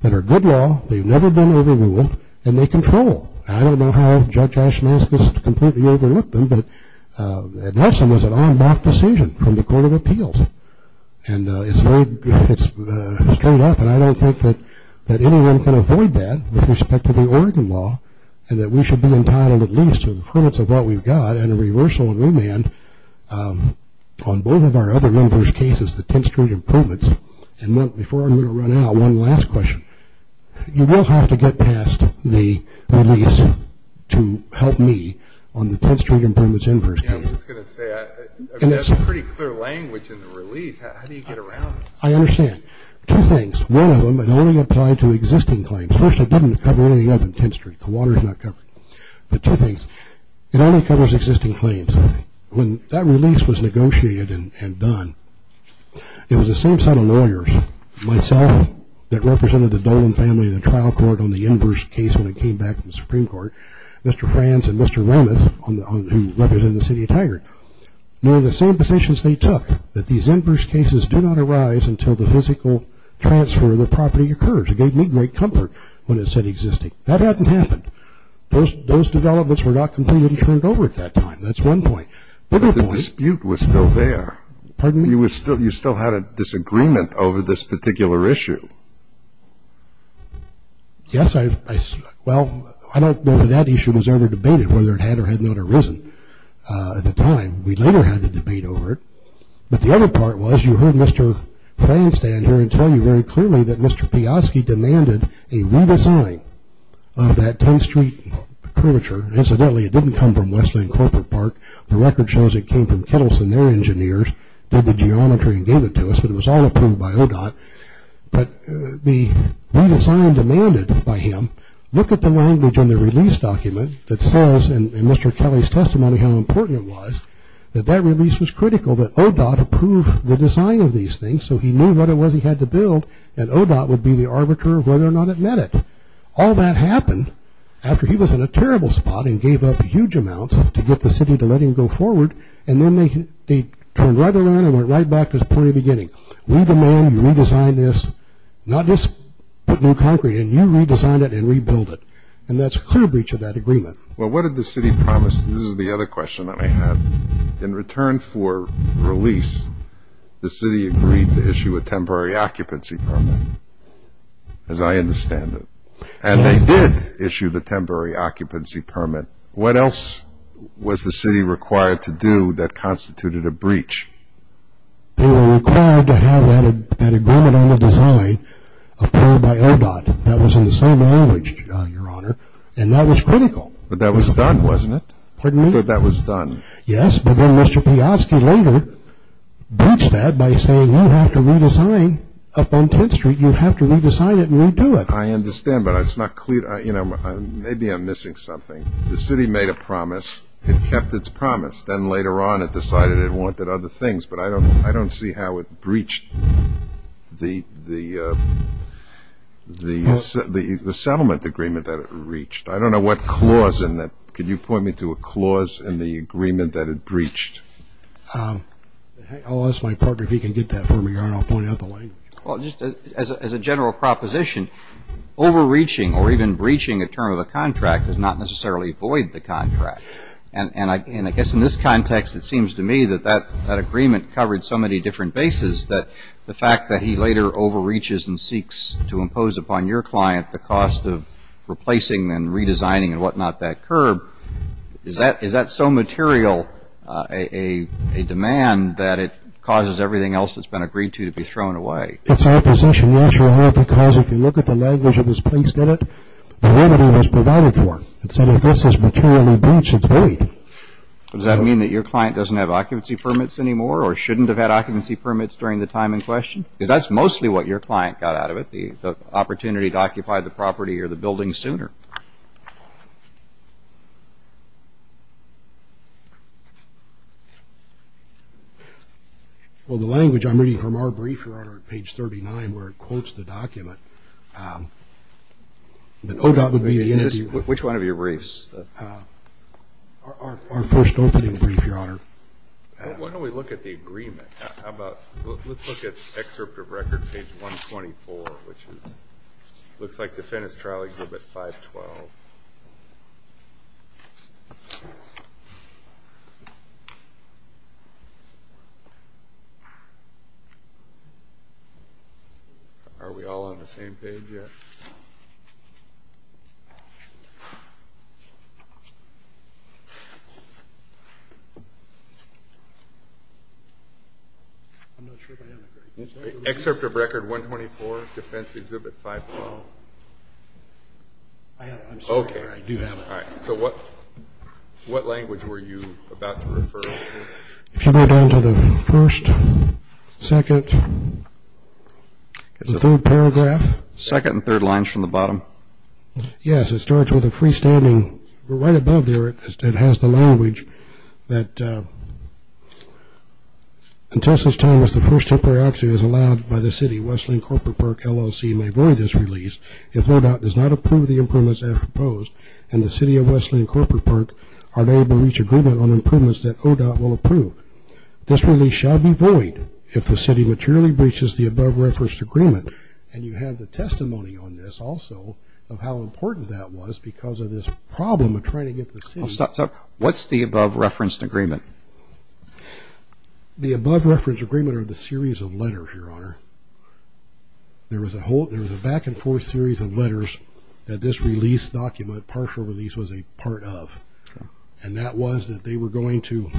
that are good law. They've never been overruled, and they control. I don't know how Judge Ashmascus completely overlooked them, but Nelson was an en bloc decision from the Court of Appeals. And it's straight up, and I don't think that anyone can avoid that with respect to the Oregon law and that we should be entitled at least to the permits of what we've got and a reversal of remand on both of our other members' cases, the 10th Street improvements. And before I'm going to run out, one last question. You will have to get past the release to help me on the 10th Street improvements inverse case. Yeah, I was just going to say that's pretty clear language in the release. How do you get around it? I understand. Two things. One of them, it only applied to existing claims. First, it doesn't cover anything other than 10th Street. The water is not covered. But two things. It only covers existing claims. When that release was negotiated and done, it was the same set of lawyers, myself that represented the Dolan family in the trial court on the inverse case when it came back from the Supreme Court, Mr. Franz and Mr. Romath, who represented the city of Tigard, were in the same positions they took, that these inverse cases do not arise until the physical transfer of the property occurs. It gave me great comfort when it said existing. That hadn't happened. Those developments were not completely turned over at that time. That's one point. But the dispute was still there. Pardon me? You still had a disagreement over this particular issue. Yes. Well, I don't know whether that issue was ever debated, whether it had or had not arisen at the time. We later had the debate over it. But the other part was you heard Mr. Franz stand here and tell you very clearly that Mr. Piotrowski demanded a redesign of that 10th Street curvature. Incidentally, it didn't come from Westland Corporate Park. The record shows it came from Kettleson, their engineers, did the geometry and gave it to us, but it was all approved by ODOT. But the redesign demanded by him, look at the language on the release document that says, in Mr. Kelly's testimony how important it was, that that release was critical, that ODOT approve the design of these things so he knew what it was he had to build and ODOT would be the arbiter of whether or not it met it. All that happened after he was in a terrible spot and gave up huge amounts to get the city to let him go forward and then they turned right around and went right back to the pretty beginning. We demand you redesign this, not just put new concrete in. You redesign it and rebuild it. And that's a clear breach of that agreement. Well, what did the city promise? This is the other question that I have. In return for release, the city agreed to issue a temporary occupancy permit, as I understand it. And they did issue the temporary occupancy permit. What else was the city required to do that constituted a breach? They were required to have that agreement on the design approved by ODOT. That was in the same language, Your Honor, and that was critical. But that was done, wasn't it? Pardon me? But that was done. Yes, but then Mr. Piotrowski later breached that by saying, You don't have to redesign up on 10th Street. You have to redesign it and redo it. I understand, but it's not clear. Maybe I'm missing something. The city made a promise and kept its promise. Then later on it decided it wanted other things, but I don't see how it breached the settlement agreement that it reached. I don't know what clause in that. Could you point me to a clause in the agreement that it breached? I'll ask my partner if he can get that for me, Your Honor, and I'll point out the language. Well, just as a general proposition, overreaching or even breaching a term of the contract does not necessarily void the contract. And I guess in this context it seems to me that that agreement covered so many different bases that the fact that he later overreaches and seeks to impose upon your client the cost of replacing and redesigning and whatnot that curb, is that so material a demand that it causes everything else that's been agreed to to be thrown away? That's our position, Your Honor, because if you look at the language that was placed in it, the remedy was provided for. It said if this is materially breached, it's void. Does that mean that your client doesn't have occupancy permits anymore or shouldn't have had occupancy permits during the time in question? Because that's mostly what your client got out of it, the opportunity to occupy the property or the building sooner. Well, the language I'm reading from our brief, Your Honor, at page 39 where it quotes the document, Which one of your briefs? Our first opening brief, Your Honor. Why don't we look at the agreement? Let's look at excerpt of record, page 124, which looks like the Fenton's Trial Exhibit 512. Are we all on the same page yet? I'm not sure if I have it. Excerpt of record 124, Defense Exhibit 512. I have it. I'm sorry, Your Honor. I do have it. All right. So what language were you about to refer to? If you go down to the first, second, and third paragraph. Second and third lines from the bottom. Yes, it starts with a freestanding. Right above there, it has the language that, And you have the testimony on this, also, of how important that was because of this problem of trying to get the city... What's the above-referenced agreement? The above-referenced agreement are the series of letters, Your Honor. There was a back-and-forth series of letters that this release document, partial release, was a part of. And that was that they were going to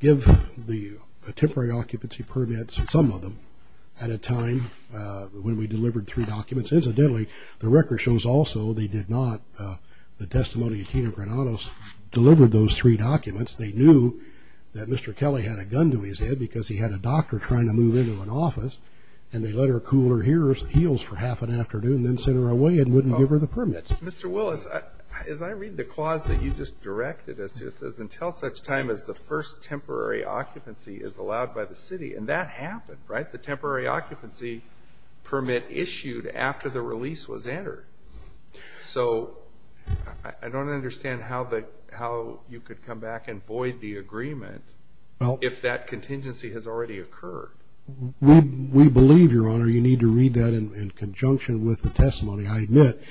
give the temporary occupancy permits, some of them, at a time when we delivered three documents. Incidentally, the record shows also they did not. The testimony of Tina Granados delivered those three documents. They knew that Mr. Kelly had a gun to his head because he had a doctor trying to move into an office, and they let her cool her heels for half an afternoon and then sent her away and wouldn't give her the permits. Mr. Willis, as I read the clause that you just directed, it says, Until such time as the first temporary occupancy is allowed by the city. And that happened, right? The temporary occupancy permit issued after the release was entered. So I don't understand how you could come back and void the agreement if that contingency has already occurred. We believe, Your Honor, you need to read that in conjunction with the testimony. I admit,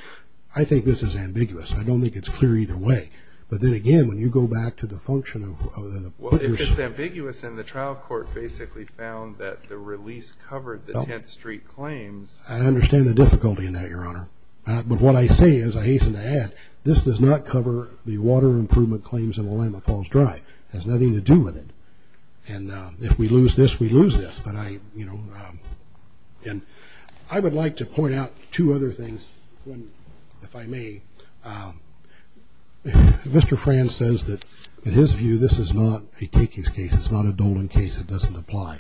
I think this is ambiguous. I don't think it's clear either way. But then again, when you go back to the function of the... Well, if it's ambiguous, then the trial court basically found that the release covered the 10th Street claims. I understand the difficulty in that, Your Honor. But what I say is, I hasten to add, this does not cover the water improvement claims in Willamette Falls Drive. It has nothing to do with it. And if we lose this, we lose this. And I would like to point out two other things, if I may. Mr. Franz says that, in his view, this is not a takings case. It's not a Dolan case. It doesn't apply.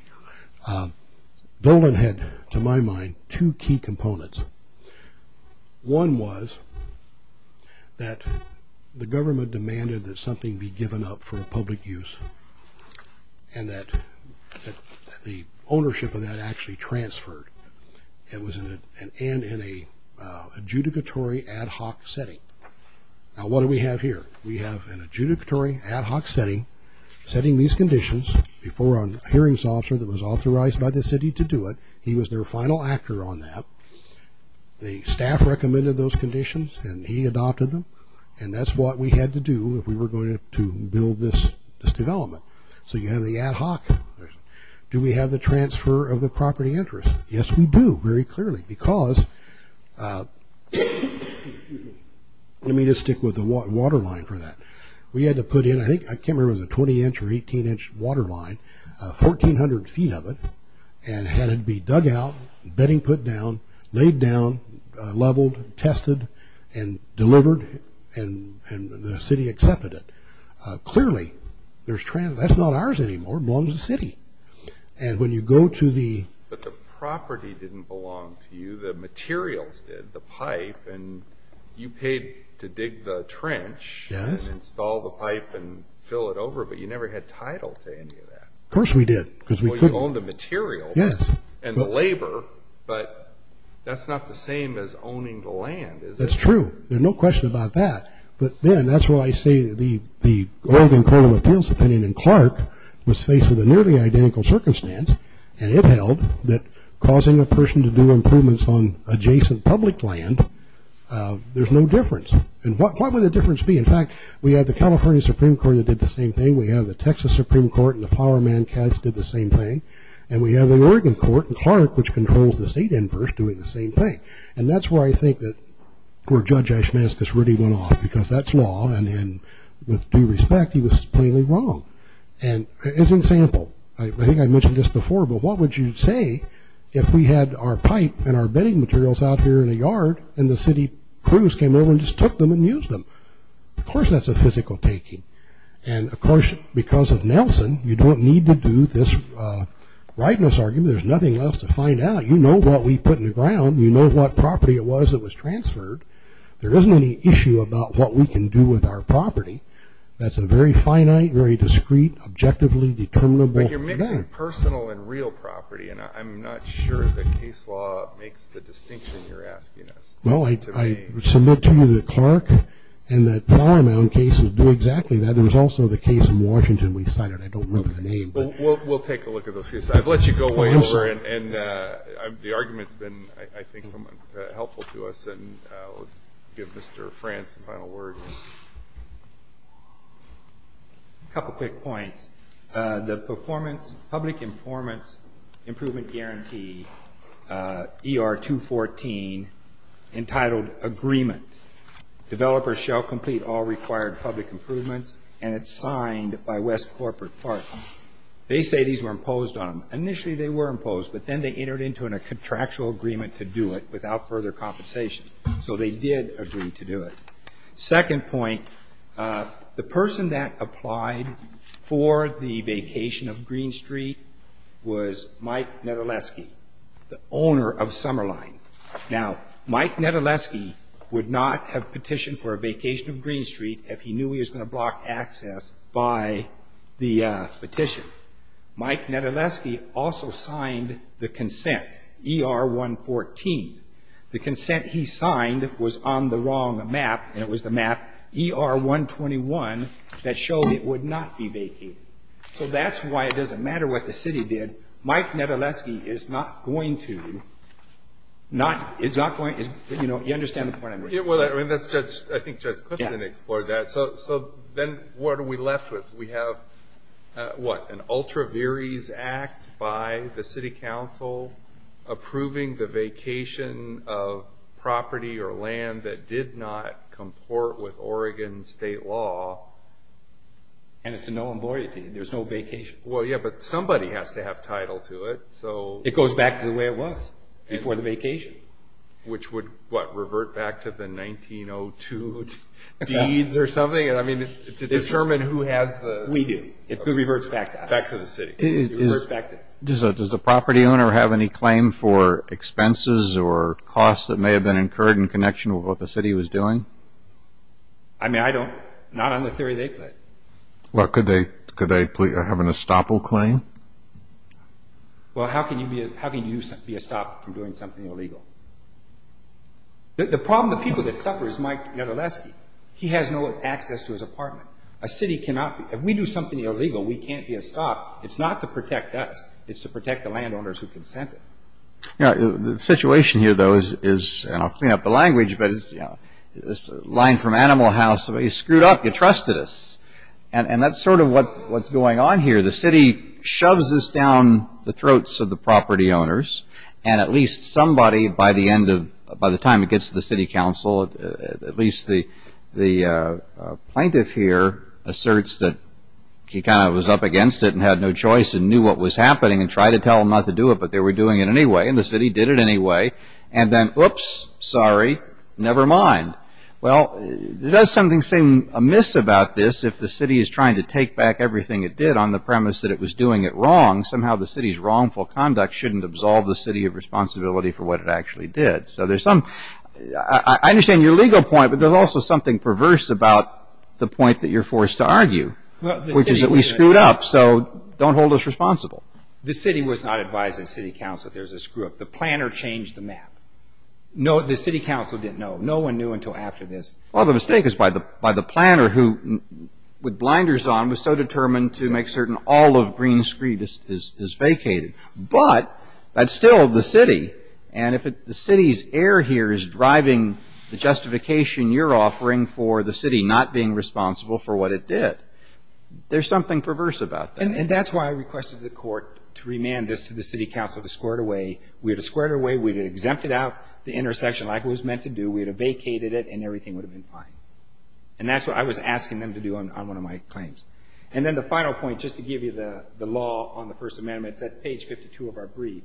Dolan had, to my mind, two key components. One was that the government demanded that something be given up for public use and that the ownership of that actually transferred. It was in an adjudicatory, ad hoc setting. Now, what do we have here? We have an adjudicatory, ad hoc setting, setting these conditions, before a hearings officer that was authorized by the city to do it. He was their final actor on that. The staff recommended those conditions, and he adopted them. And that's what we had to do if we were going to build this development. So you have the ad hoc. Do we have the transfer of the property interest? Yes, we do, very clearly. Let me just stick with the waterline for that. We had to put in, I think, I can't remember, it was a 20-inch or 18-inch waterline, 1,400 feet of it, and had it be dug out, bedding put down, laid down, leveled, tested, and delivered, and the city accepted it. Clearly, that's not ours anymore. It belongs to the city. But the property didn't belong to you. The materials did, the pipe. And you paid to dig the trench and install the pipe and fill it over, but you never had title to any of that. Of course we did. Well, you owned the material and the labor, but that's not the same as owning the land, is it? That's true. There's no question about that. But then that's where I say the Oregon Colonial Appeals opinion, and Clark was faced with a nearly identical circumstance, and it held that causing a person to do improvements on adjacent public land, there's no difference. And what would the difference be? In fact, we have the California Supreme Court that did the same thing. We have the Texas Supreme Court and the power man, Cass, did the same thing. And we have the Oregon Court and Clark, which controls the state inverse, doing the same thing. And that's where I think that where Judge Ashmascus really went off, because that's law, and with due respect, he was plainly wrong. And as an example, I think I mentioned this before, but what would you say if we had our pipe and our bedding materials out here in a yard and the city crews came over and just took them and used them? Of course that's a physical taking. And, of course, because of Nelson, you don't need to do this rightness argument. There's nothing left to find out. You know what we put in the ground. You know what property it was that was transferred. There isn't any issue about what we can do with our property. That's a very finite, very discreet, objectively determinable thing. But you're mixing personal and real property, and I'm not sure that case law makes the distinction you're asking us. Well, I submit to you that Clark and that power man cases do exactly that. There was also the case in Washington we cited. I don't remember the name. We'll take a look at those cases. I've let you go way over, and the argument's been, I think, somewhat helpful to us. And let's give Mr. Frantz the final word. A couple quick points. The performance public informants improvement guarantee, ER 214, entitled agreement. Developers shall complete all required public improvements, and it's signed by West Corporate Park. They say these were imposed on them. Initially they were imposed, but then they entered into a contractual agreement to do it without further compensation. So they did agree to do it. Second point, the person that applied for the vacation of Green Street was Mike Nedoleski, the owner of Summerline. Now, Mike Nedoleski would not have petitioned for a vacation of Green Street if he knew he was going to block access by the petition. Mike Nedoleski also signed the consent, ER 114. The consent he signed was on the wrong map, and it was the map ER 121, that showed it would not be vacated. So that's why it doesn't matter what the city did. Mike Nedoleski is not going to, not, is not going to, you know, you understand the point I'm making? Yeah, well, I mean, that's Judge, I think Judge Clifton explored that. So then what are we left with? We have, what, an ultra viris act by the city council approving the vacation of property or land that did not comport with Oregon state law. And it's a no employment deed, there's no vacation. Well, yeah, but somebody has to have title to it, so. It goes back to the way it was before the vacation. Which would, what, revert back to the 1902 deeds or something? I mean, to determine who has the. We do. It reverts back to us. Back to the city. It reverts back to us. Does the property owner have any claim for expenses or costs that may have been incurred in connection with what the city was doing? I mean, I don't. Not on the theory they put. Well, could they have an estoppel claim? Well, how can you be estoppel from doing something illegal? The problem with the people that suffer is Mike Nedoleski. He has no access to his apartment. A city cannot be. If we do something illegal, we can't be estoppel. It's not to protect us. It's to protect the landowners who consented. Yeah, the situation here, though, is, and I'll clean up the language, but it's, you know, this line from Animal House, somebody screwed up, you trusted us. And that's sort of what's going on here. The city shoves this down the throats of the property owners. And at least somebody, by the end of, by the time it gets to the city council, at least the plaintiff here asserts that he kind of was up against it and had no choice and knew what was happening and tried to tell them not to do it, but they were doing it anyway and the city did it anyway. And then, oops, sorry, never mind. Well, it does something seem amiss about this if the city is trying to take back everything it did on the premise that it was doing it wrong. Somehow the city's wrongful conduct shouldn't absolve the city of responsibility for what it actually did. So there's some, I understand your legal point, but there's also something perverse about the point that you're forced to argue, which is that we screwed up, so don't hold us responsible. The city was not advising city council there's a screw-up. The planner changed the map. No, the city council didn't know. No one knew until after this. Well, the mistake is by the planner who, with blinders on, was so determined to make certain all of Green Street is vacated. But that's still the city, and if the city's error here is driving the justification you're offering for the city not being responsible for what it did, there's something perverse about that. And that's why I requested the court to remand this to the city council to square it away. We would have squared it away. We would have exempted out the intersection like it was meant to do. We would have vacated it and everything would have been fine. And that's what I was asking them to do on one of my claims. And then the final point, just to give you the law on the First Amendment, it's at page 52 of our brief,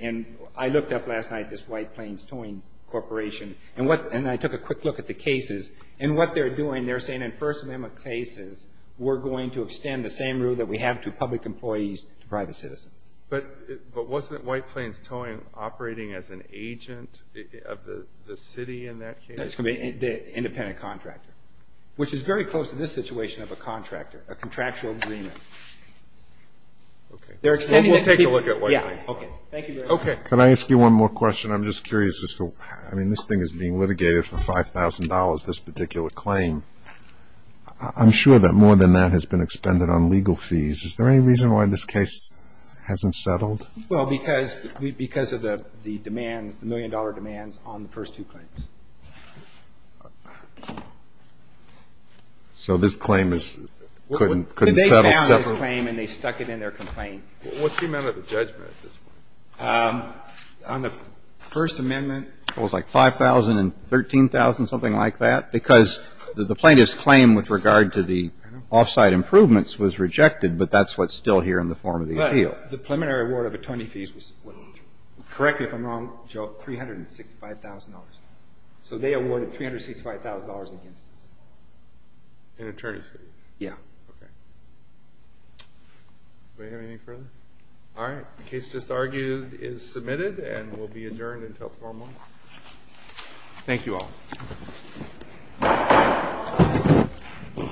and I looked up last night this White Plains Towing Corporation, and I took a quick look at the cases, and what they're doing, they're saying in First Amendment cases we're going to extend the same rule that we have to public employees to private citizens. But wasn't White Plains Towing operating as an agent of the city in that case? No, it's going to be an independent contractor, which is very close to this situation of a contractor, a contractual agreement. We'll take a look at White Plains. Thank you very much. Can I ask you one more question? I'm just curious. I mean, this thing is being litigated for $5,000, this particular claim. I'm sure that more than that has been expended on legal fees. Is there any reason why this case hasn't settled? Well, because of the demands, the million-dollar demands on the first two claims. So this claim couldn't settle separately? They found this claim and they stuck it in their complaint. What's the amount of the judgment at this point? On the First Amendment? It was like $5,000 and $13,000, something like that, because the plaintiff's claim with regard to the off-site improvements was rejected, but that's what's still here in the form of the appeal. But the preliminary award of attorney fees was, correct me if I'm wrong, Joe, $365,000. So they awarded $365,000 against this. In attorney fees? Yeah. Okay. Do we have anything further? All right. The case just argued is submitted and will be adjourned until tomorrow morning. Thank you all.